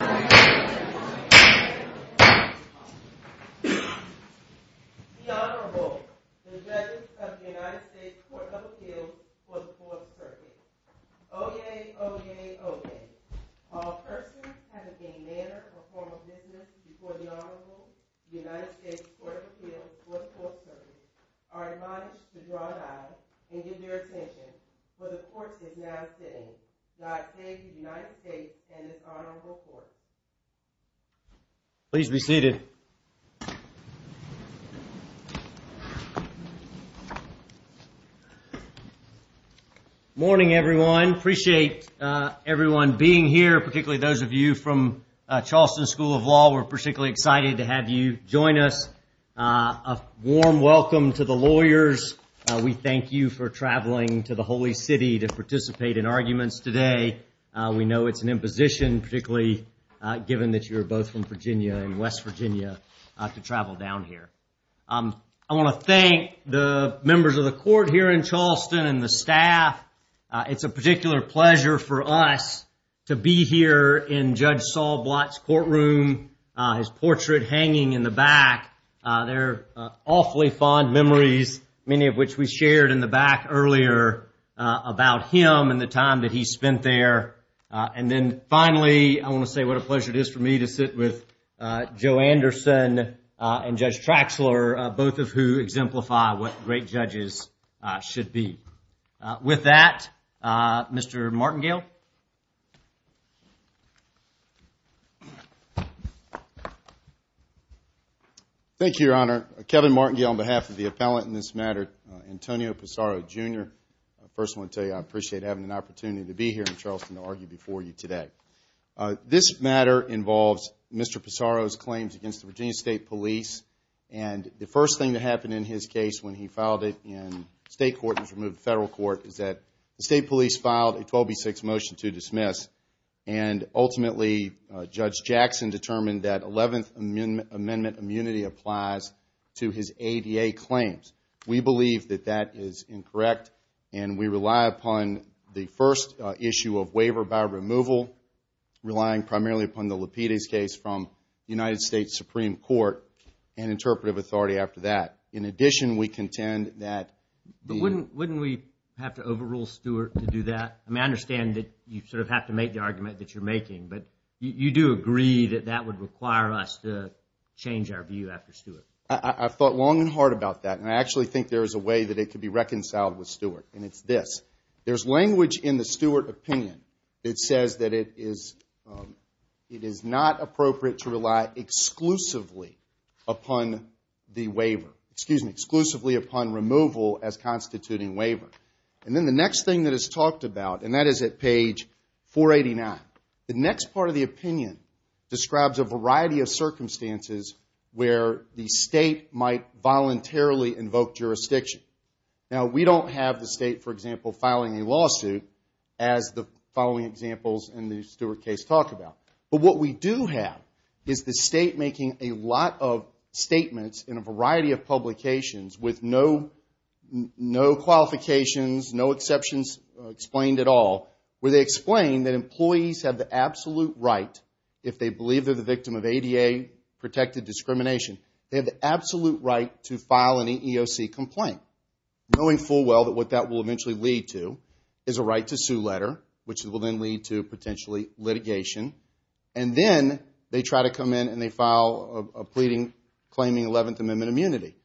The Honorable, the Judges of the United States Court of Appeals for the Fourth Circuit. Oyez, oyez, oyez. All persons having any manner or form of business before the Honorable, the United States Court of Appeals for the Fourth Circuit, are admonished to draw an eye and give their attention, for the court is now sitting. God save the United States and this Honorable Court. Please be seated. Good morning, everyone. I appreciate everyone being here, particularly those of you from Charleston School of Law. We're particularly excited to have you join us. A warm welcome to the lawyers. We thank you for traveling to the Holy City to participate in arguments today. We know it's an imposition, particularly given that you're both from Virginia and West Virginia, to travel down here. I want to thank the members of the court here in Charleston and the staff. It's a particular pleasure for us to be here in Judge Saul Blatt's courtroom, his portrait hanging in the back. They're awfully fond memories, many of which we shared in the back earlier about him and the time that he spent there. And then finally, I want to say what a pleasure it is for me to sit with Joe Anderson and Judge Traxler, both of who exemplify what great judges should be. With that, Mr. Martingale. Thank you, Your Honor. Kevin Martingale on behalf of the appellant in this matter, Antonio Pissarro, Jr. First, I want to tell you I appreciate having an opportunity to be here in Charleston to argue before you today. This matter involves Mr. Pissarro's claims against the Virginia State Police. And the first thing that happened in his case when he filed it in state court and was removed to federal court is that the State Police filed a 12B6 motion to dismiss. And ultimately, Judge Jackson determined that 11th Amendment immunity applies to his ADA claims. We believe that that is incorrect, and we rely upon the first issue of waiver by removal, relying primarily upon the Lapides case from the United States Supreme Court. And interpretive authority after that. In addition, we contend that... But wouldn't we have to overrule Stewart to do that? I mean, I understand that you sort of have to make the argument that you're making, but you do agree that that would require us to change our view after Stewart. I've thought long and hard about that, and I actually think there is a way that it could be reconciled with Stewart, and it's this. There's language in the Stewart opinion that says that it is not appropriate to rely exclusively upon the waiver. Excuse me, exclusively upon removal as constituting waiver. And then the next thing that is talked about, and that is at page 489. The next part of the opinion describes a variety of circumstances where the state might voluntarily invoke jurisdiction. Now, we don't have the state, for example, filing a lawsuit as the following examples in the Stewart case talk about. But what we do have is the state making a lot of statements in a variety of publications with no qualifications, no exceptions explained at all, where they explain that employees have the absolute right, if they believe they're the victim of ADA-protected discrimination, they have the absolute right to file an EEOC complaint, knowing full well that what that will eventually lead to is a right to sue letter, which will then lead to potentially litigation. And then they try to come in and they file a pleading claiming 11th Amendment immunity.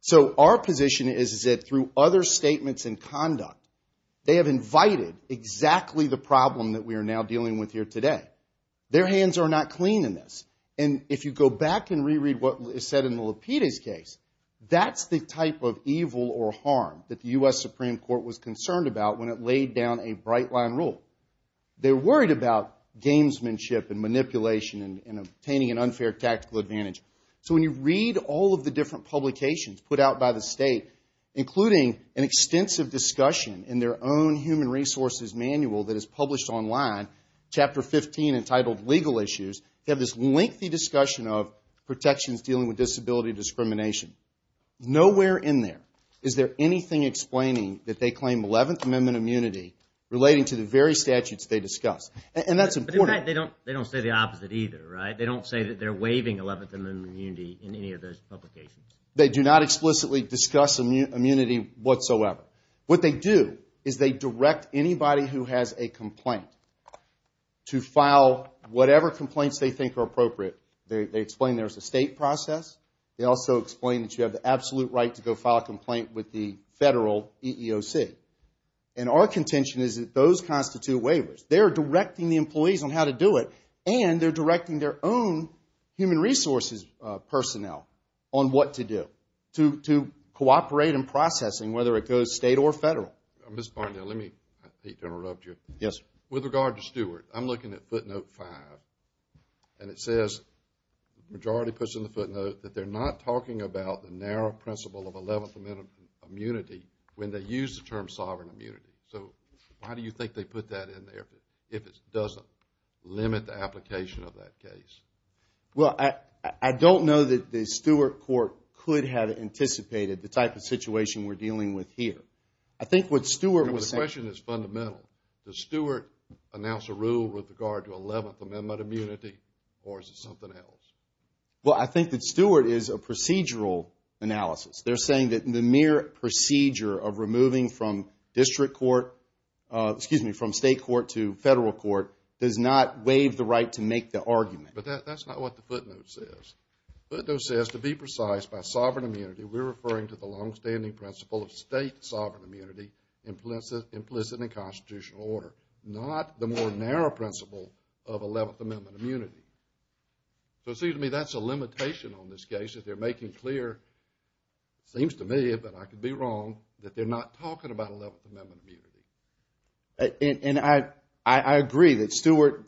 So our position is that through other statements and conduct, they have invited exactly the problem that we are now dealing with here today. Their hands are not clean in this. And if you go back and reread what is said in the Lapides case, that's the type of evil or harm that the U.S. Supreme Court was concerned about when it laid down a bright line rule. They're worried about gamesmanship and manipulation and obtaining an unfair tactical advantage. So when you read all of the different publications put out by the state, including an extensive discussion in their own human resources manual that is published online, Chapter 15, entitled Legal Issues, they have this lengthy discussion of protections dealing with disability discrimination. Nowhere in there is there anything explaining that they claim 11th Amendment immunity relating to the very statutes they discuss. And that's important. But in fact, they don't say the opposite either, right? They don't say that they're waiving 11th Amendment immunity in any of those publications. They do not explicitly discuss immunity whatsoever. What they do is they direct anybody who has a complaint to file whatever complaints they think are appropriate. They explain there's a state process. They also explain that you have the absolute right to go file a complaint with the federal EEOC. And our contention is that those constitute waivers. They're directing the employees on how to do it, and they're directing their own human resources personnel on what to do, to cooperate in processing, whether it goes state or federal. Ms. Barnett, let me, I hate to interrupt you. Yes. With regard to Stewart, I'm looking at footnote five, and it says, majority puts in the footnote, that they're not talking about the narrow principle of 11th Amendment immunity when they use the term sovereign immunity. So why do you think they put that in there if it doesn't limit the application of that case? Well, I don't know that the Stewart court could have anticipated the type of situation we're dealing with here. I think what Stewart was saying. The question is fundamental. Does Stewart announce a rule with regard to 11th Amendment immunity, or is it something else? Well, I think that Stewart is a procedural analysis. They're saying that the mere procedure of removing from district court, excuse me, from state court to federal court does not waive the right to make the argument. But that's not what the footnote says. Footnote says, to be precise, by sovereign immunity, we're referring to the longstanding principle of state sovereign immunity implicit in constitutional order, not the more narrow principle of 11th Amendment immunity. So it seems to me that's a limitation on this case, that they're making clear, it seems to me, but I could be wrong, that they're not talking about 11th Amendment immunity. And I agree that Stewart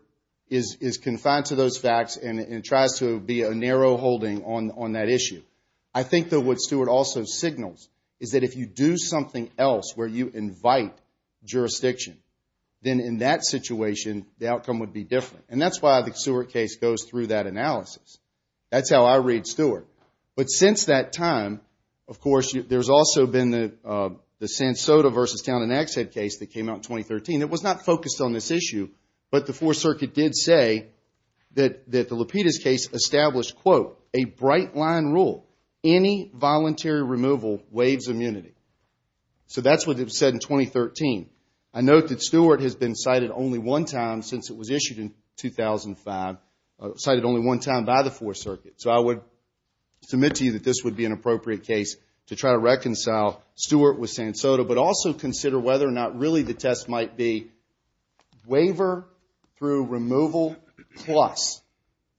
is confined to those facts and tries to be a narrow holding on that issue. I think that what Stewart also signals is that if you do something else where you invite jurisdiction, then in that situation, the outcome would be different. And that's why the Stewart case goes through that analysis. That's how I read Stewart. But since that time, of course, there's also been the San Soto versus Town and Exit case that came out in 2013. It was not focused on this issue, but the Fourth Circuit did say that the Lapidus case established, quote, a bright line rule, any voluntary removal waives immunity. So that's what it said in 2013. I note that Stewart has been cited only one time since it was issued in 2005, cited only one time by the Fourth Circuit. So I would submit to you that this would be an appropriate case to try to reconcile Stewart with San Soto, but also consider whether or not really the test might be waiver through removal plus.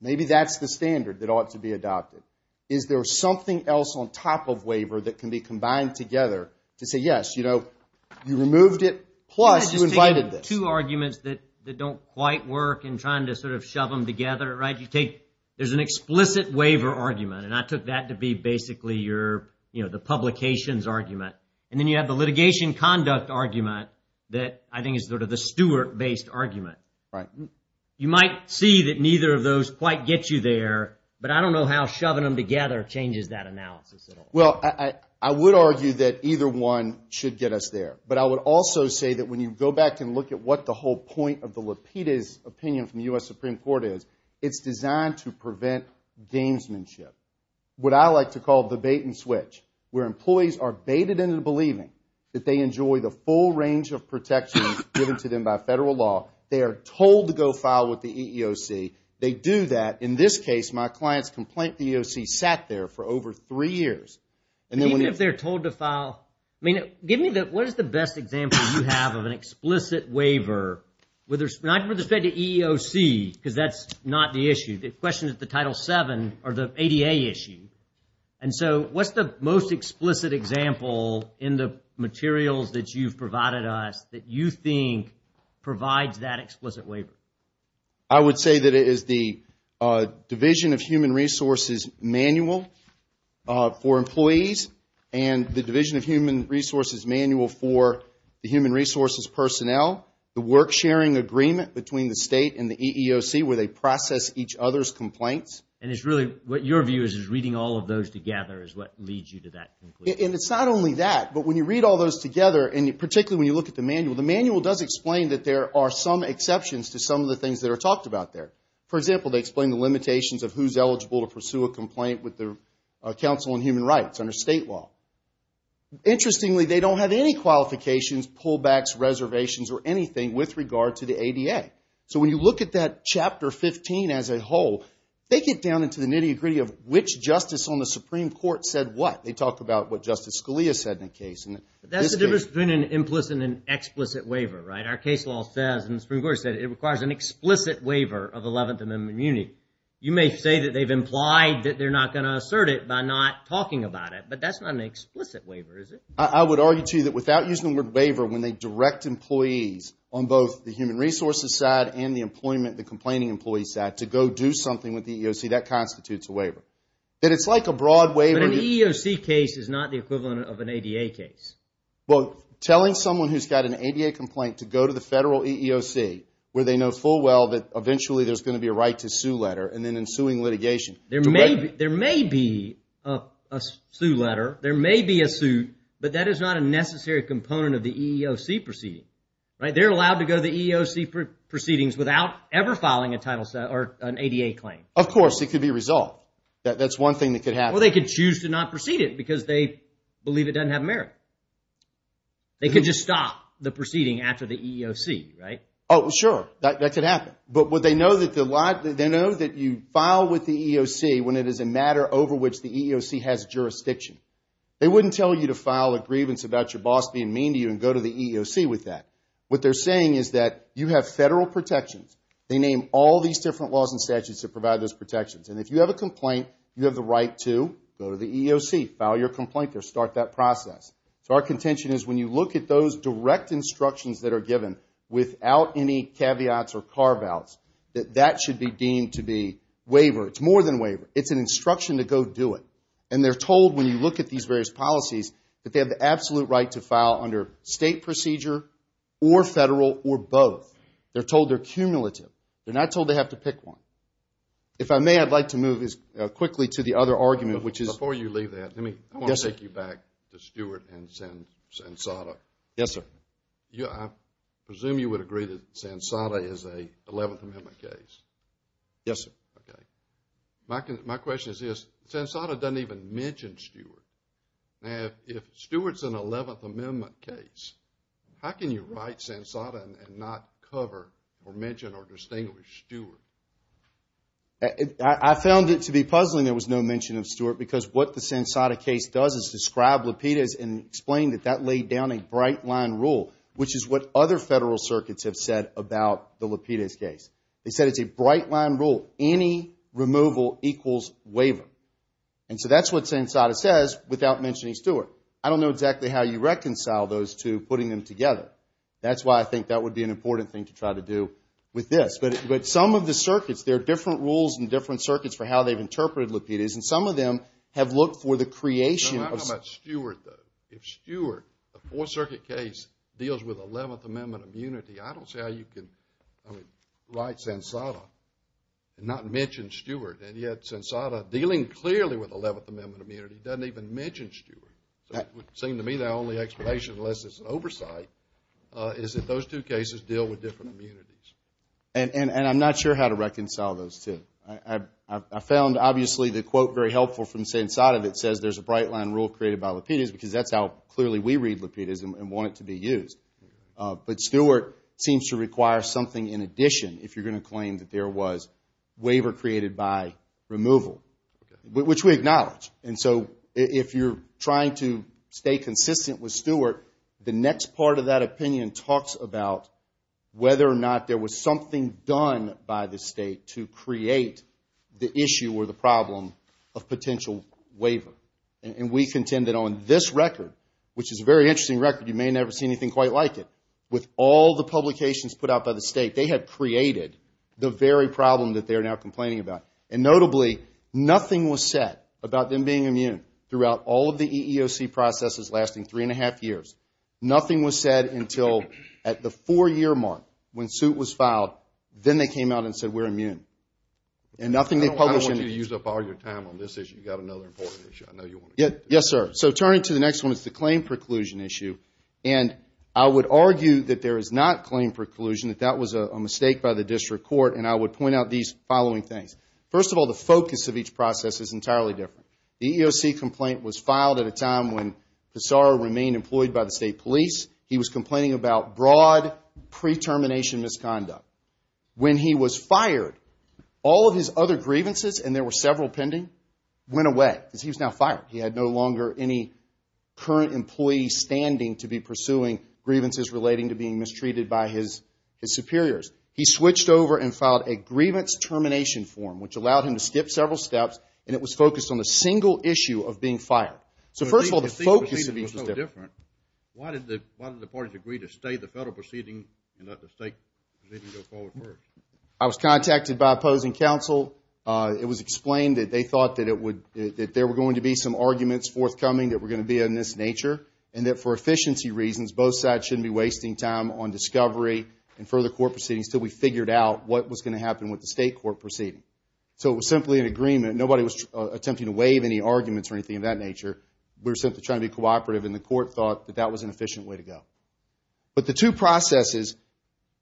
Maybe that's the standard that ought to be adopted. Is there something else on top of waiver that can be combined together to say, yes, you know, you removed it, plus you invited this. Can I just take two arguments that don't quite work in trying to sort of shove them together, right? You take there's an explicit waiver argument, and I took that to be basically your, you know, the publications argument. And then you have the litigation conduct argument that I think is sort of the Stewart-based argument. Right. You might see that neither of those quite get you there, but I don't know how shoving them together changes that analysis at all. Well, I would argue that either one should get us there. But I would also say that when you go back and look at what the whole point of the Lapidus opinion from the U.S. Supreme Court is, it's designed to prevent gamesmanship, what I like to call the bait and switch, where employees are baited into believing that they enjoy the full range of protection given to them by federal law. They are told to go file with the EEOC. They do that. In this case, my clients complained the EEOC sat there for over three years. Even if they're told to file, I mean, give me the, what is the best example you have of an explicit waiver? Not with respect to EEOC, because that's not the issue. The question is the Title VII or the ADA issue. And so what's the most explicit example in the materials that you've provided us that you think provides that explicit waiver? I would say that it is the Division of Human Resources manual for employees and the Division of Human Resources manual for the human resources personnel, the work sharing agreement between the state and the EEOC where they process each other's complaints. And it's really what your view is, is reading all of those together is what leads you to that conclusion. And it's not only that, but when you read all those together, and particularly when you look at the manual, the manual does explain that there are some exceptions to some of the things that are talked about there. For example, they explain the limitations of who's eligible to pursue a complaint with the Council on Human Rights. Under state law. Interestingly, they don't have any qualifications, pullbacks, reservations, or anything with regard to the ADA. So when you look at that Chapter 15 as a whole, they get down into the nitty-gritty of which justice on the Supreme Court said what. They talk about what Justice Scalia said in the case. That's the difference between an implicit and an explicit waiver, right? Our case law says, and the Supreme Court said, it requires an explicit waiver of 11th Amendment immunity. You may say that they've implied that they're not going to assert it by not talking about it, but that's not an explicit waiver, is it? I would argue, too, that without using the word waiver, when they direct employees on both the human resources side and the employment, the complaining employee side, to go do something with the EEOC, that constitutes a waiver. And it's like a broad waiver. But an EEOC case is not the equivalent of an ADA case. Well, telling someone who's got an ADA complaint to go to the federal EEOC, where they know full well that eventually there's going to be a right to sue letter, and then in suing litigation. There may be a sue letter. There may be a suit, but that is not a necessary component of the EEOC proceeding. They're allowed to go to the EEOC proceedings without ever filing an ADA claim. Of course, it could be resolved. That's one thing that could happen. Well, they could choose to not proceed it because they believe it doesn't have merit. They could just stop the proceeding after the EEOC, right? Oh, sure. That could happen. But they know that you file with the EEOC when it is a matter over which the EEOC has jurisdiction. They wouldn't tell you to file a grievance about your boss being mean to you and go to the EEOC with that. What they're saying is that you have federal protections. They name all these different laws and statutes that provide those protections. And if you have a complaint, you have the right to go to the EEOC, file your complaint there, start that process. So our contention is when you look at those direct instructions that are given without any caveats or carve-outs, that that should be deemed to be waiver. It's more than waiver. It's an instruction to go do it. And they're told when you look at these various policies that they have the absolute right to file under state procedure or federal or both. They're told they're cumulative. They're not told they have to pick one. If I may, I'd like to move quickly to the other argument, which is – Stewart and Sansada. Yes, sir. I presume you would agree that Sansada is an 11th Amendment case. Yes, sir. Okay. My question is this. Sansada doesn't even mention Stewart. Now, if Stewart's an 11th Amendment case, how can you write Sansada and not cover or mention or distinguish Stewart? I found it to be puzzling there was no mention of Stewart because what the Sansada case does is describe LAPIDA and explain that that laid down a bright-line rule, which is what other federal circuits have said about the LAPIDA case. They said it's a bright-line rule. Any removal equals waiver. And so that's what Sansada says without mentioning Stewart. I don't know exactly how you reconcile those two, putting them together. That's why I think that would be an important thing to try to do with this. But some of the circuits, there are different rules in different circuits for how they've interpreted LAPIDAs, and some of them have looked for the creation of – It's not about Stewart, though. If Stewart, a Fourth Circuit case, deals with 11th Amendment immunity, I don't see how you can write Sansada and not mention Stewart. And yet Sansada, dealing clearly with 11th Amendment immunity, doesn't even mention Stewart. It would seem to me the only explanation, unless it's an oversight, is that those two cases deal with different immunities. And I'm not sure how to reconcile those two. I found, obviously, the quote very helpful from Sansada that says there's a bright-line rule created by LAPIDAs because that's how clearly we read LAPIDAs and want it to be used. But Stewart seems to require something in addition if you're going to claim that there was waiver created by removal, which we acknowledge. And so if you're trying to stay consistent with Stewart, the next part of that opinion talks about whether or not there was something done by the State to create the issue or the problem of potential waiver. And we contend that on this record, which is a very interesting record. You may never see anything quite like it. With all the publications put out by the State, they have created the very problem that they're now complaining about. And notably, nothing was said about them being immune throughout all of the EEOC processes lasting three and a half years. Nothing was said until at the four-year mark, when suit was filed. Then they came out and said, we're immune. And nothing they published. I don't want you to use up all your time on this issue. You've got another important issue I know you want to get to. Yes, sir. So turning to the next one, it's the claim preclusion issue. And I would argue that there is not claim preclusion, that that was a mistake by the District Court. And I would point out these following things. First of all, the focus of each process is entirely different. The EEOC complaint was filed at a time when Pissarro remained employed by the State Police. He was complaining about broad pre-termination misconduct. When he was fired, all of his other grievances, and there were several pending, went away. Because he was now fired. He had no longer any current employee standing to be pursuing grievances relating to being mistreated by his superiors. He switched over and filed a grievance termination form, which allowed him to skip several steps. And it was focused on the single issue of being fired. So first of all, the focus of each was different. Why did the parties agree to stay the federal proceeding and let the state proceeding go forward first? I was contacted by opposing counsel. It was explained that they thought that there were going to be some arguments forthcoming that were going to be of this nature. And that for efficiency reasons, both sides shouldn't be wasting time on discovery and further court proceedings until we figured out what was going to happen with the state court proceeding. So it was simply an agreement. Nobody was attempting to waive any arguments or anything of that nature. We were simply trying to be cooperative. And the court thought that that was an efficient way to go. But the two processes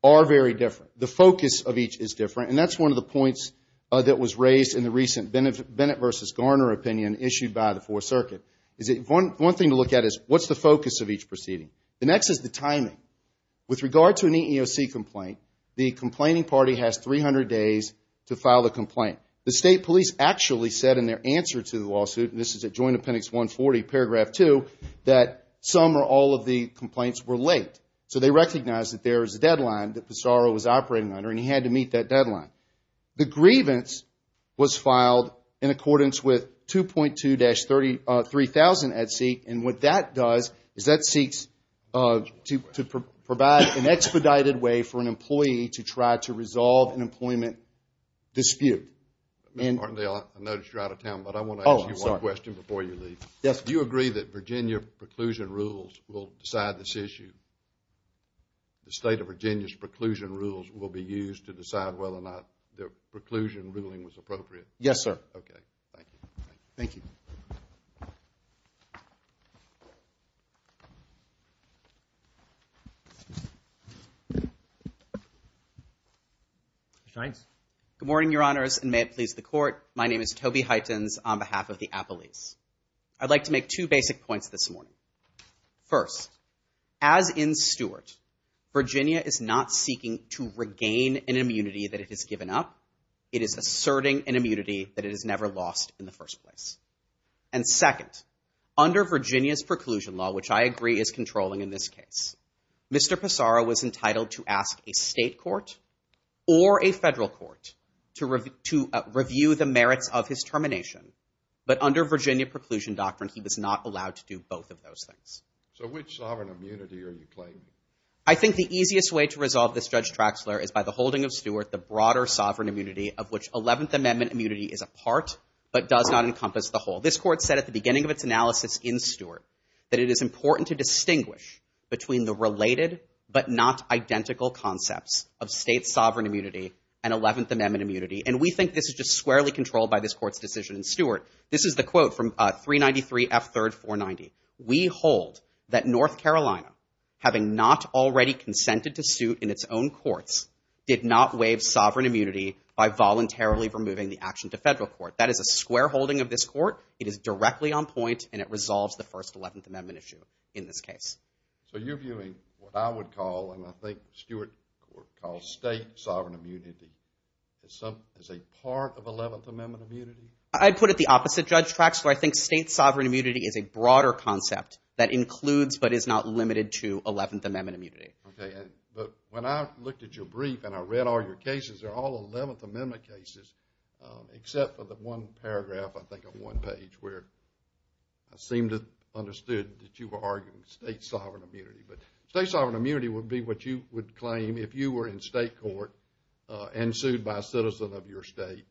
are very different. The focus of each is different. And that's one of the points that was raised in the recent Bennett v. Garner opinion issued by the Fourth Circuit. One thing to look at is what's the focus of each proceeding? The next is the timing. With regard to an EEOC complaint, the complaining party has 300 days to file a complaint. The state police actually said in their answer to the lawsuit, and this is at Joint Appendix 140, Paragraph 2, that some or all of the complaints were late. So they recognized that there was a deadline that Pissarro was operating under, and he had to meet that deadline. The grievance was filed in accordance with 2.2-3000 at seek. And what that does is that seeks to provide an expedited way for an employee to try to resolve an employment dispute. Mr. Martindale, I noticed you're out of town, but I want to ask you one question before you leave. Do you agree that Virginia preclusion rules will decide this issue? The state of Virginia's preclusion rules will be used to decide whether or not the preclusion ruling was appropriate? Yes, sir. Okay. Thank you. Thank you. Good morning, Your Honors, and may it please the Court. My name is Toby Heitens on behalf of the Appellees. I'd like to make two basic points this morning. First, as in Stewart, Virginia is not seeking to regain an immunity that it has given up. It is asserting an immunity that it has never lost in the first place. And second, under Virginia's preclusion law, which I agree is controlling in this case, Mr. Pissarro was entitled to ask a state court or a federal court to review the merits of his termination. But under Virginia preclusion doctrine, he was not allowed to do both of those things. So which sovereign immunity are you claiming? I think the easiest way to resolve this, Judge Traxler, is by the holding of Stewart the broader sovereign immunity of which Eleventh Amendment immunity is a part but does not encompass the whole. This Court said at the beginning of its analysis in Stewart that it is important to distinguish between the related but not identical concepts of state sovereign immunity and Eleventh Amendment immunity. And we think this is just squarely controlled by this Court's decision in Stewart. This is the quote from 393 F. 3rd 490. We hold that North Carolina, having not already consented to suit in its own courts, did not waive sovereign immunity by voluntarily removing the action to federal court. That is a square holding of this Court. It is directly on point, and it resolves the First Eleventh Amendment issue in this case. So you're viewing what I would call, and I think Stewart calls state sovereign immunity, as a part of Eleventh Amendment immunity? I'd put it the opposite, Judge Traxler. I think state sovereign immunity is a broader concept that includes but is not limited to Eleventh Amendment immunity. Okay. But when I looked at your brief and I read all your cases, they're all Eleventh Amendment cases, except for the one paragraph, I think, of one page where I seem to have understood that you were arguing state sovereign immunity. But state sovereign immunity would be what you would claim if you were in state court and sued by a citizen of your state.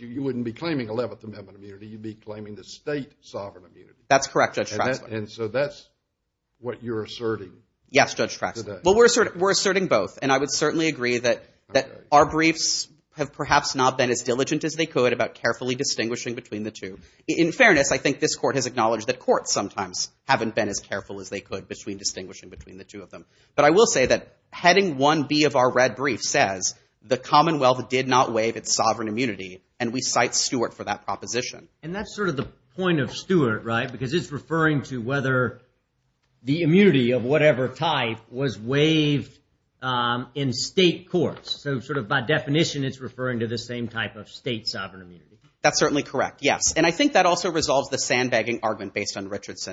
You wouldn't be claiming Eleventh Amendment immunity. You'd be claiming the state sovereign immunity. That's correct, Judge Traxler. And so that's what you're asserting today? Yes, Judge Traxler. Well, we're asserting both. And I would certainly agree that our briefs have perhaps not been as diligent as they could about carefully distinguishing between the two. In fairness, I think this Court has acknowledged that courts sometimes haven't been as careful as they could between distinguishing between the two of them. But I will say that heading 1B of our red brief says the Commonwealth did not waive its sovereign immunity, and we cite Stewart for that proposition. And that's sort of the point of Stewart, right? Because it's referring to whether the immunity of whatever type was waived in state courts. So sort of by definition, it's referring to the same type of state sovereign immunity. That's certainly correct, yes. And I think that also resolves the sandbagging argument based on Lapidus.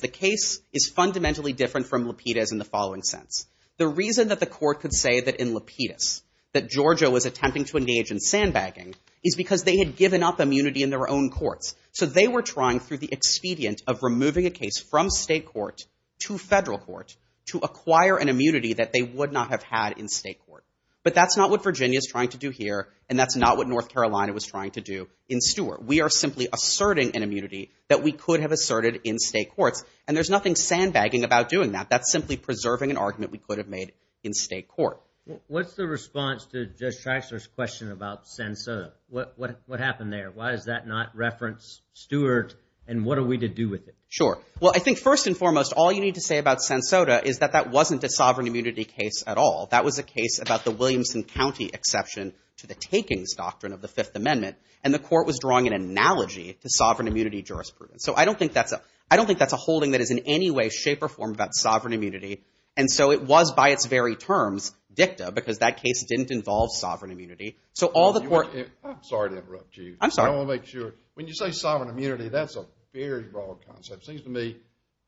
The case is fundamentally different from Lapidus in the following sense. The reason that the Court could say that in Lapidus that Georgia was attempting to engage in sandbagging is because they had given up immunity in their own courts. So they were trying through the expedient of removing a case from state court to federal court to acquire an immunity that they would not have had in state court. But that's not what Virginia is trying to do here, and that's not what North Carolina was trying to do in Stewart. We are simply asserting an immunity that we could have asserted in state courts, and there's nothing sandbagging about doing that. That's simply preserving an argument we could have made in state court. What's the response to Judge Traxler's question about Sansoda? What happened there? Why does that not reference Stewart, and what are we to do with it? Sure. Well, I think first and foremost, all you need to say about Sansoda is that that wasn't a sovereign immunity case at all. That was a case about the Williamson County exception to the takings doctrine of the Fifth Amendment, and the court was drawing an analogy to sovereign immunity jurisprudence. So I don't think that's a holding that is in any way, shape, or form about sovereign immunity, and so it was by its very terms dicta because that case didn't involve sovereign immunity. So all the court— I'm sorry to interrupt you. I'm sorry. I want to make sure. When you say sovereign immunity, that's a very broad concept. It seems to me it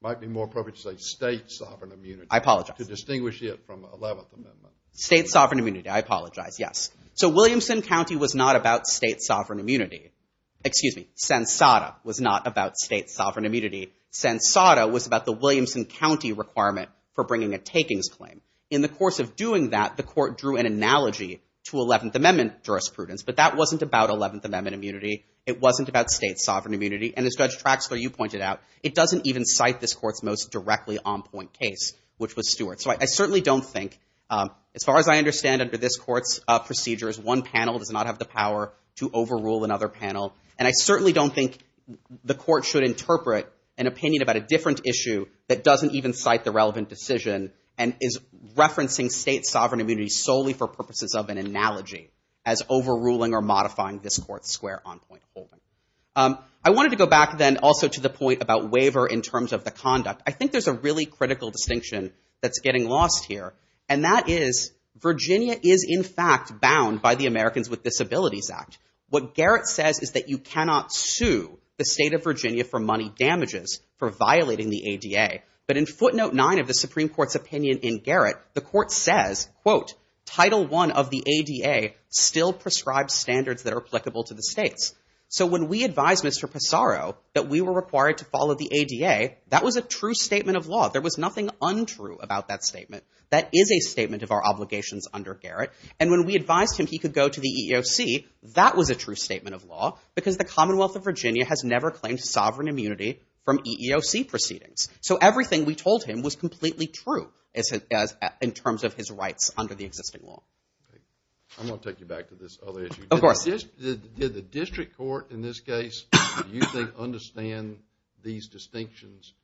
might be more appropriate to say state sovereign immunity. I apologize. To distinguish it from Eleventh Amendment. State sovereign immunity. I apologize. Yes. So Williamson County was not about state sovereign immunity. Excuse me. Sansoda was not about state sovereign immunity. Sansoda was about the Williamson County requirement for bringing a takings claim. In the course of doing that, the court drew an analogy to Eleventh Amendment jurisprudence, but that wasn't about Eleventh Amendment immunity. It wasn't about state sovereign immunity, and as Judge Traxler, you pointed out, it doesn't even cite this court's most directly on-point case, which was Stewart. So I certainly don't think—as far as I understand under this court's procedures, one panel does not have the power to overrule another panel, and I certainly don't think the court should interpret an opinion about a different issue that doesn't even cite the relevant decision and is referencing state sovereign immunity solely for purposes of an analogy as overruling or modifying this court's square on-point holding. I wanted to go back then also to the point about waiver in terms of the conduct. I think there's a really critical distinction that's getting lost here, and that is Virginia is in fact bound by the Americans with Disabilities Act. What Garrett says is that you cannot sue the state of Virginia for money damages for violating the ADA, but in footnote 9 of the Supreme Court's opinion in Garrett, the court says, quote, Title I of the ADA still prescribes standards that are applicable to the states. So when we advised Mr. Passaro that we were required to follow the ADA, that was a true statement of law. There was nothing untrue about that statement. That is a statement of our obligations under Garrett. And when we advised him he could go to the EEOC, that was a true statement of law because the Commonwealth of Virginia has never claimed sovereign immunity from EEOC proceedings. So everything we told him was completely true in terms of his rights under the existing law. I'm going to take you back to this other issue. Of course. Did the district court in this case do you think understand these distinctions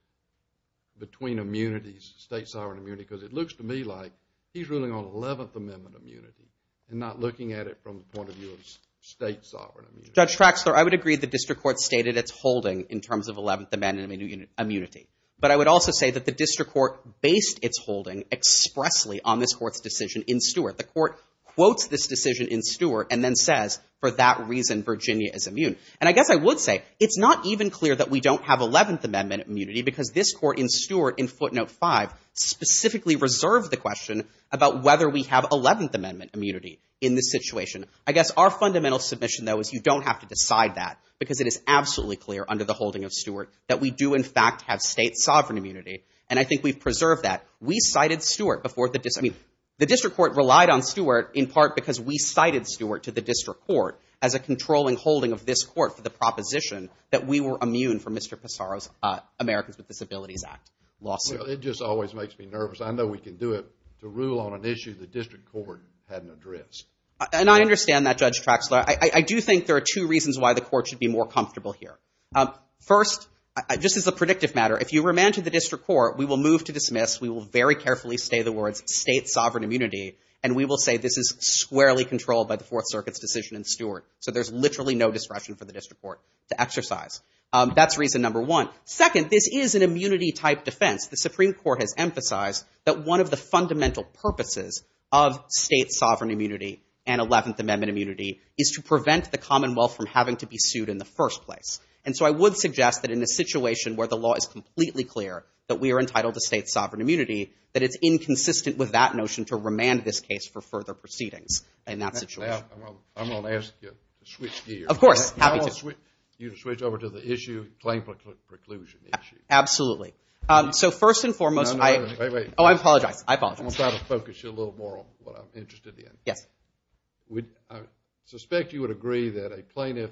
between immunities, state sovereign immunity, because it looks to me like he's ruling on 11th Amendment immunity and not looking at it from the point of view of state sovereign immunity. Judge Traxler, I would agree the district court stated its holding in terms of 11th Amendment immunity, but I would also say that the district court based its holding expressly on this court's decision in Stewart. The court quotes this decision in Stewart and then says for that reason Virginia is immune. And I guess I would say it's not even clear that we don't have 11th Amendment immunity because this court in Stewart in footnote 5 specifically reserved the question about whether we have 11th Amendment immunity in this situation. I guess our fundamental submission, though, is you don't have to decide that because it is absolutely clear under the holding of Stewart that we do in fact have state sovereign immunity. And I think we've preserved that. The district court relied on Stewart in part because we cited Stewart to the district court as a controlling holding of this court for the proposition that we were immune from Mr. Passaro's Americans with Disabilities Act lawsuit. It just always makes me nervous. I know we can do it to rule on an issue the district court hadn't addressed. And I understand that, Judge Traxler. I do think there are two reasons why the court should be more comfortable here. First, just as a predictive matter, if you remand to the district court, we will move to dismiss. We will very carefully say the words state sovereign immunity, and we will say this is squarely controlled by the Fourth Circuit's decision in Stewart. So there's literally no discretion for the district court to exercise. That's reason number one. Second, this is an immunity-type defense. The Supreme Court has emphasized that one of the fundamental purposes of state sovereign immunity and 11th Amendment immunity is to prevent the Commonwealth from having to be sued in the first place. And so I would suggest that in a situation where the law is completely clear that we are entitled to state sovereign immunity, that it's inconsistent with that notion to remand this case for further proceedings in that situation. I'm going to ask you to switch gears. Of course. Happy to. I want you to switch over to the claim preclusion issue. Absolutely. So first and foremost, I apologize. I'm going to try to focus you a little more on what I'm interested in. Yes. I suspect you would agree that a plaintiff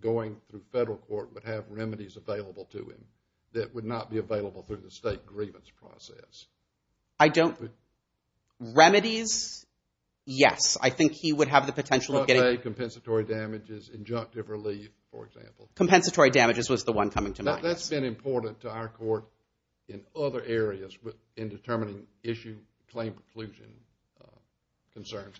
going through federal court would have remedies available to him that would not be available through the state grievance process. I don't. Remedies, yes. I think he would have the potential of getting Compensatory damages, injunctive relief, for example. Compensatory damages was the one coming to mind. That's been important to our court in other areas in determining issue claim preclusion concerns.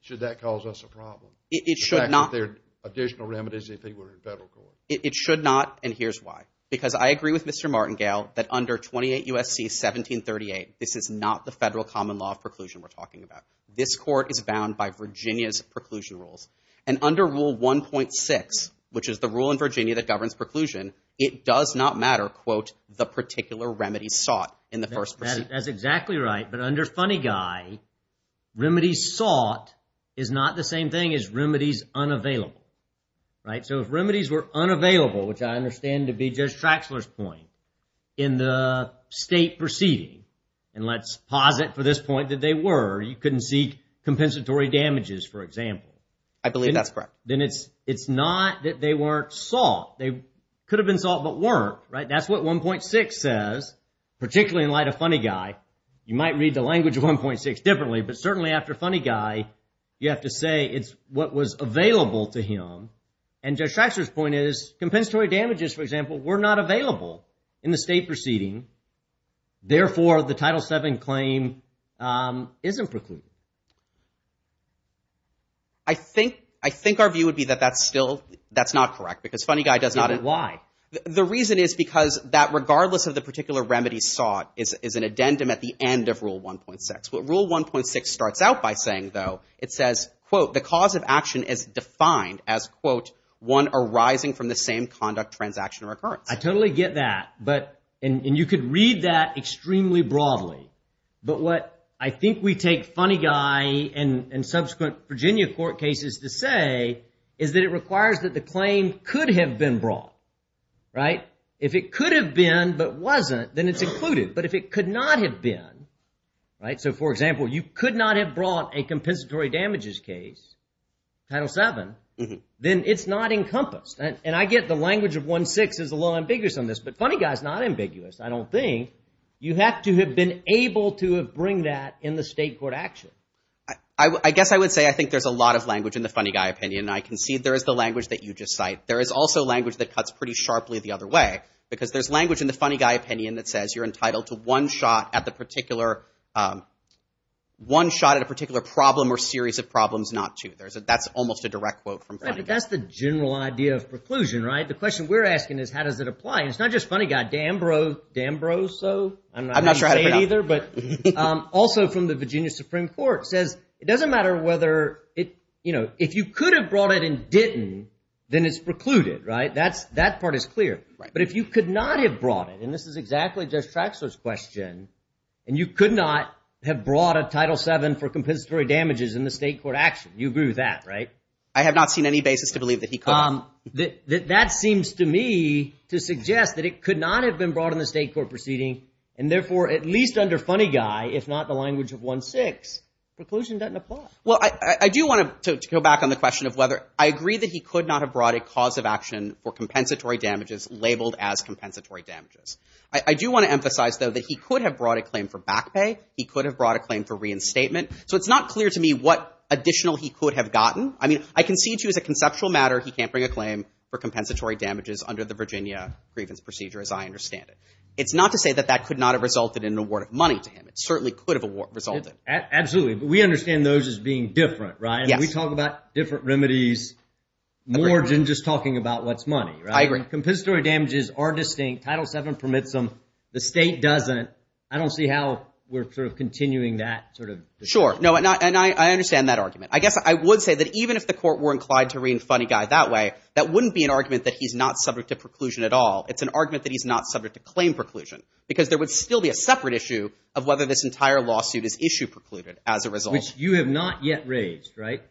Should that cause us a problem? It should not. Should there be additional remedies if they were in federal court? It should not, and here's why. Because I agree with Mr. Martingale that under 28 U.S.C. 1738, this is not the federal common law of preclusion we're talking about. This court is bound by Virginia's preclusion rules. And under Rule 1.6, which is the rule in Virginia that governs preclusion, it does not matter, quote, the particular remedy sought in the first proceeding. That's exactly right. But under Funny Guy, remedies sought is not the same thing as remedies unavailable, right? So if remedies were unavailable, which I understand to be Judge Traxler's point, in the state proceeding, and let's posit for this point that they were, you couldn't seek compensatory damages, for example. I believe that's correct. Then it's not that they weren't sought. They could have been sought but weren't, right? That's what 1.6 says, particularly in light of Funny Guy. You might read the language of 1.6 differently, but certainly after Funny Guy, you have to say it's what was available to him. And Judge Traxler's point is compensatory damages, for example, were not available in the state proceeding. Therefore, the Title VII claim isn't precluded. I think our view would be that that's still, that's not correct because Funny Guy does not. Why? The reason is because that regardless of the particular remedy sought is an addendum at the end of Rule 1.6. What Rule 1.6 starts out by saying, though, it says, quote, the cause of action is defined as, quote, one arising from the same conduct, transaction, or occurrence. I totally get that, and you could read that extremely broadly. But what I think we take Funny Guy and subsequent Virginia court cases to say is that it requires that the claim could have been brought. If it could have been but wasn't, then it's included. But if it could not have been, so for example, you could not have brought a compensatory damages case, Title VII, then it's not encompassed. And I get the language of 1.6 is a little ambiguous on this, but Funny Guy is not ambiguous, I don't think. You have to have been able to bring that in the state court action. I guess I would say I think there's a lot of language in the Funny Guy opinion, and I can see there is the language that you just cite. There is also language that cuts pretty sharply the other way, because there's language in the Funny Guy opinion that says you're entitled to one shot at the particular problem or series of problems not to. That's almost a direct quote from Funny Guy. That's the general idea of preclusion, right? The question we're asking is how does it apply? It's not just Funny Guy. D'Ambroso, I'm not sure how you say it either, but also from the Virginia Supreme Court, says it doesn't matter whether it, you know, if you could have brought it and didn't, then it's precluded, right? That part is clear. But if you could not have brought it, and this is exactly Judge Traxler's question, and you could not have brought a Title VII for compensatory damages in the state court action, you agree with that, right? I have not seen any basis to believe that he could have. That seems to me to suggest that it could not have been brought in the state court proceeding, and therefore at least under Funny Guy, if not the language of 1-6, preclusion doesn't apply. Well, I do want to go back on the question of whether I agree that he could not have brought a cause of action for compensatory damages labeled as compensatory damages. I do want to emphasize, though, that he could have brought a claim for back pay. He could have brought a claim for reinstatement. So it's not clear to me what additional he could have gotten. I mean, I concede to you as a conceptual matter he can't bring a claim for compensatory damages under the Virginia grievance procedure, as I understand it. It's not to say that that could not have resulted in an award of money to him. It certainly could have resulted. Absolutely. But we understand those as being different, right? Yes. And we talk about different remedies more than just talking about what's money, right? I agree. Compensatory damages are distinct. Title VII permits them. The state doesn't. I don't see how we're sort of continuing that sort of discussion. Sure. No, and I understand that argument. I guess I would say that even if the court were inclined to read Funny Guy that way, that wouldn't be an argument that he's not subject to preclusion at all. It's an argument that he's not subject to claim preclusion because there would still be a separate issue of whether this entire lawsuit is issue precluded as a result. Which you have not yet raised, right?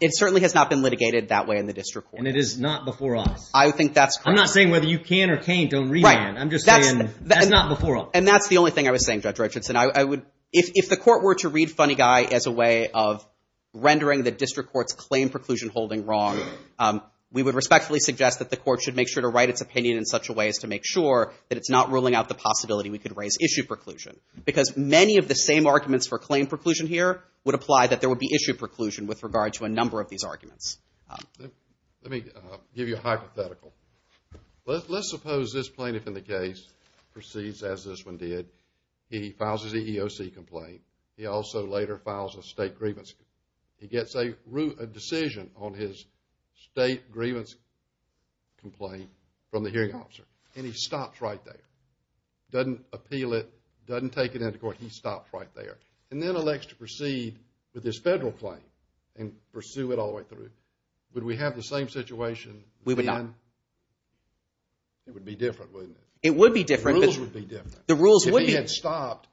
It certainly has not been litigated that way in the district court. And it is not before us. I think that's correct. I'm not saying whether you can or can't on remand. Right. I'm just saying that's not before us. And that's the only thing I was saying, Judge Richardson. If the court were to read Funny Guy as a way of rendering the district court's claim preclusion holding wrong, we would respectfully suggest that the court should make sure to write its opinion in such a way as to make sure that it's not ruling out the possibility we could raise issue preclusion. Because many of the same arguments for claim preclusion here would apply that there would be issue preclusion with regard to a number of these arguments. Let me give you a hypothetical. Let's suppose this plaintiff in the case proceeds as this one did. He files his EEOC complaint. He also later files a state grievance. He gets a decision on his state grievance complaint from the hearing officer. And he stops right there. Doesn't appeal it. Doesn't take it into court. He stops right there. And then elects to proceed with his federal claim and pursue it all the way through. Would we have the same situation? We would not. It would be different, wouldn't it? It would be different. The rules would be different. If he had stopped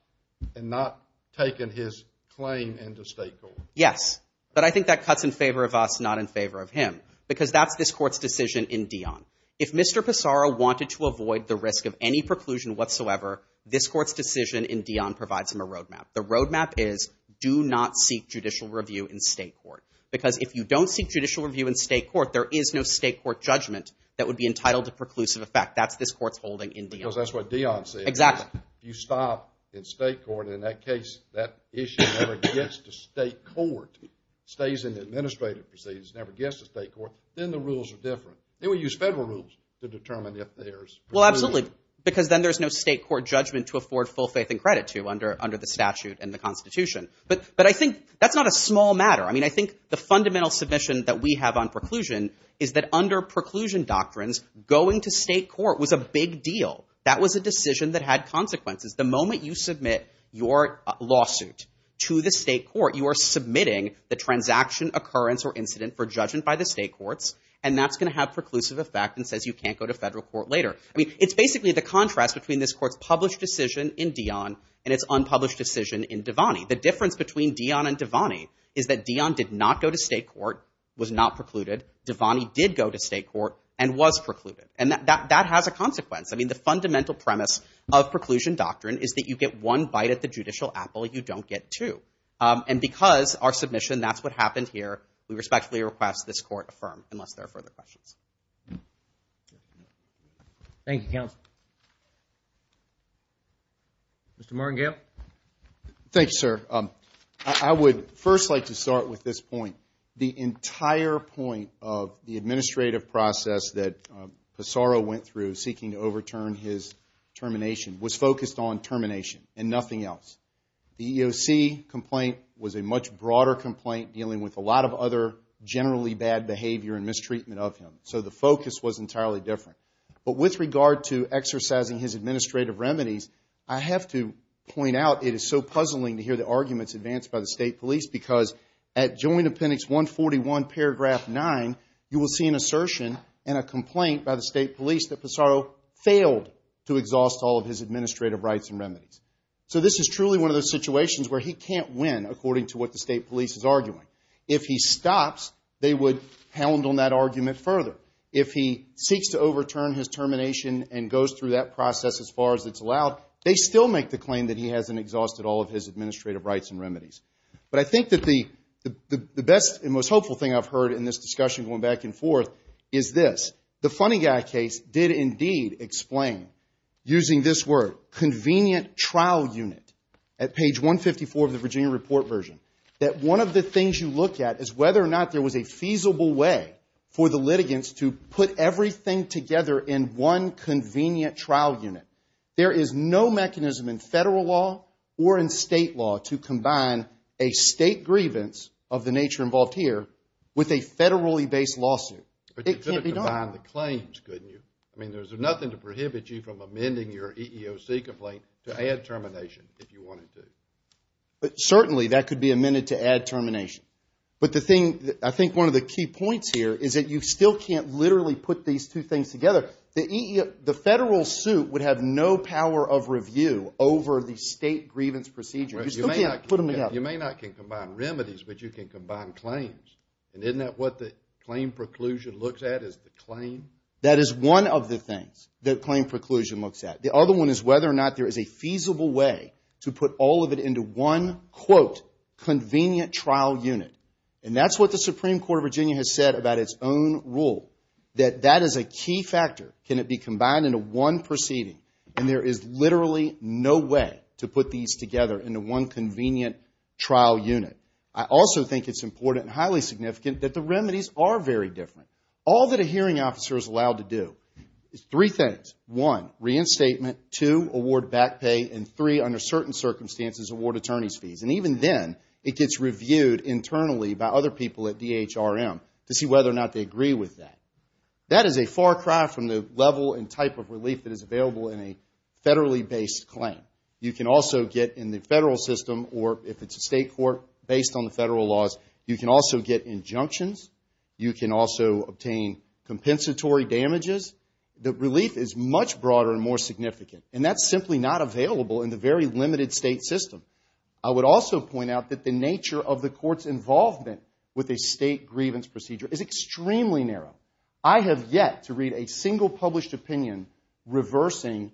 and not taken his claim into state court. Yes. But I think that cuts in favor of us, not in favor of him. Because that's this court's decision in Dion. If Mr. Pissarro wanted to avoid the risk of any preclusion whatsoever, this court's decision in Dion provides him a road map. The road map is do not seek judicial review in state court. Because if you don't seek judicial review in state court, there is no state court judgment that would be entitled to preclusive effect. That's this court's holding in Dion. Because that's what Dion said. Exactly. If you stop in state court, in that case, that issue never gets to state court. It stays in the administrative proceedings. It never gets to state court. Then the rules are different. Then we use federal rules to determine if there's preclusion. Well, absolutely. Because then there's no state court judgment to afford full faith and credit to under the statute and the Constitution. But I think that's not a small matter. I mean, I think the fundamental submission that we have on preclusion is that under preclusion doctrines, going to state court was a big deal. That was a decision that had consequences. The moment you submit your lawsuit to the state court, you are submitting the transaction occurrence or incident for judgment by the state courts, and that's going to have preclusive effect and says you can't go to federal court later. I mean, it's basically the contrast between this court's published decision in Dion and its unpublished decision in Devani. The difference between Dion and Devani is that Dion did not go to state court, was not precluded. Devani did go to state court and was precluded. And that has a consequence. I mean, the fundamental premise of preclusion doctrine is that you get one bite at the judicial apple you don't get two. And because our submission, that's what happened here, we respectfully request this court affirm unless there are further questions. Thank you, counsel. Mr. Moringale. Thank you, sir. I would first like to start with this point. The entire point of the administrative process that Passaro went through seeking to overturn his termination was focused on termination and nothing else. The EEOC complaint was a much broader complaint dealing with a lot of other generally bad behavior and mistreatment of him. So the focus was entirely different. But with regard to exercising his administrative remedies, I have to point out it is so puzzling to hear the arguments advanced by the state police because at Joint Appendix 141, Paragraph 9, you will see an assertion and a complaint by the state police that Passaro failed to exhaust all of his administrative rights and remedies. So this is truly one of those situations where he can't win, according to what the state police is arguing. If he stops, they would hound on that argument further. If he seeks to overturn his termination and goes through that process as far as it's allowed, they still make the claim that he hasn't exhausted all of his administrative rights and remedies. But I think that the best and most hopeful thing I've heard in this discussion going back and forth is this. The Funny Guy case did indeed explain, using this word, convenient trial unit, at page 154 of the Virginia report version, that one of the things you look at is whether or not there was a feasible way for the litigants to put everything together in one convenient trial unit. There is no mechanism in federal law or in state law to combine a state grievance of the nature involved here with a federally based lawsuit. It can't be done. But you could have combined the claims, couldn't you? I mean, there's nothing to prohibit you from amending your EEOC complaint to add termination if you wanted to. Certainly, that could be amended to add termination. But the thing, I think one of the key points here is that you still can't literally put these two things together. The federal suit would have no power of review over the state grievance procedure. You still can't put them together. You may not be able to combine remedies, but you can combine claims. And isn't that what the claim preclusion looks at, is the claim? That is one of the things that claim preclusion looks at. The other one is whether or not there is a feasible way to put all of it into one, quote, convenient trial unit. And that's what the Supreme Court of Virginia has said about its own rule, that that is a key factor. Can it be combined into one proceeding? And there is literally no way to put these together into one convenient trial unit. I also think it's important and highly significant that the remedies are very different. All that a hearing officer is allowed to do is three things. One, reinstatement. Two, award back pay. And three, under certain circumstances, award attorney's fees. And even then, it gets reviewed internally by other people at DHRM to see whether or not they agree with that. That is a far cry from the level and type of relief that is available in a federally-based claim. You can also get in the federal system, or if it's a state court, based on the federal laws, you can also get injunctions. You can also obtain compensatory damages. The relief is much broader and more significant, and that's simply not available in the very limited state system. I would also point out that the nature of the court's involvement with a state grievance procedure is extremely narrow. I have yet to read a single published opinion reversing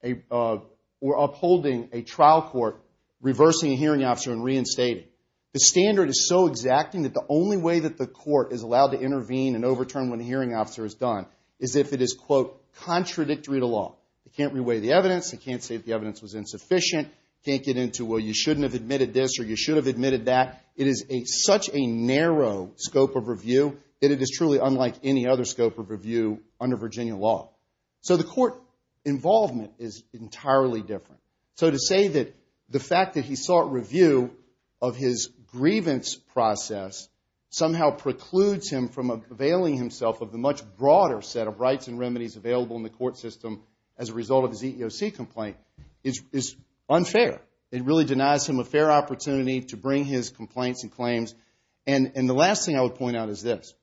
or upholding a trial court reversing a hearing officer and reinstating. The standard is so exacting that the only way that the court is allowed to intervene and overturn when a hearing officer is done is if it is, quote, contradictory to law. It can't reweigh the evidence. It can't say that the evidence was insufficient. It can't get into, well, you shouldn't have admitted this or you should have admitted that. It is such a narrow scope of review that it is truly unlike any other scope of review under Virginia law. So the court involvement is entirely different. So to say that the fact that he sought review of his grievance process somehow precludes him from availing himself of the much broader set of rights and remedies available in the court system as a result of his EEOC complaint is unfair. It really denies him a fair opportunity to bring his complaints and claims. And the last thing I would point out is this.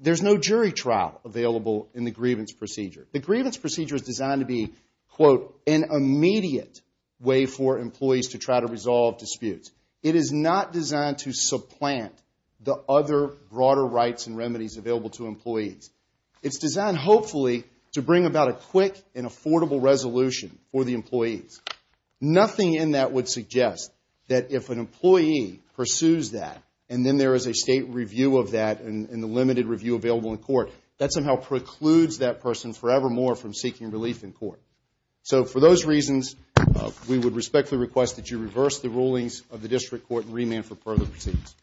There's no jury trial available in the grievance procedure. The grievance procedure is designed to be, quote, an immediate way for employees to try to resolve disputes. It is not designed to supplant the other broader rights and remedies available to employees. It's designed, hopefully, to bring about a quick and affordable resolution for the employees. Nothing in that would suggest that if an employee pursues that and then there is a state review of that and the limited review available in court, that somehow precludes that person forevermore from seeking relief in court. So for those reasons, we would respectfully request that you reverse the rulings of the district court and remand for further proceedings.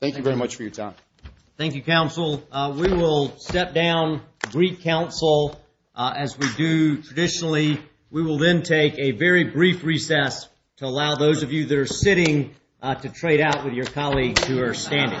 Thank you very much for your time. Thank you, counsel. We will step down, brief counsel as we do traditionally. We will then take a very brief recess to allow those of you that are sitting to trade out with your colleagues who are standing. Thank you.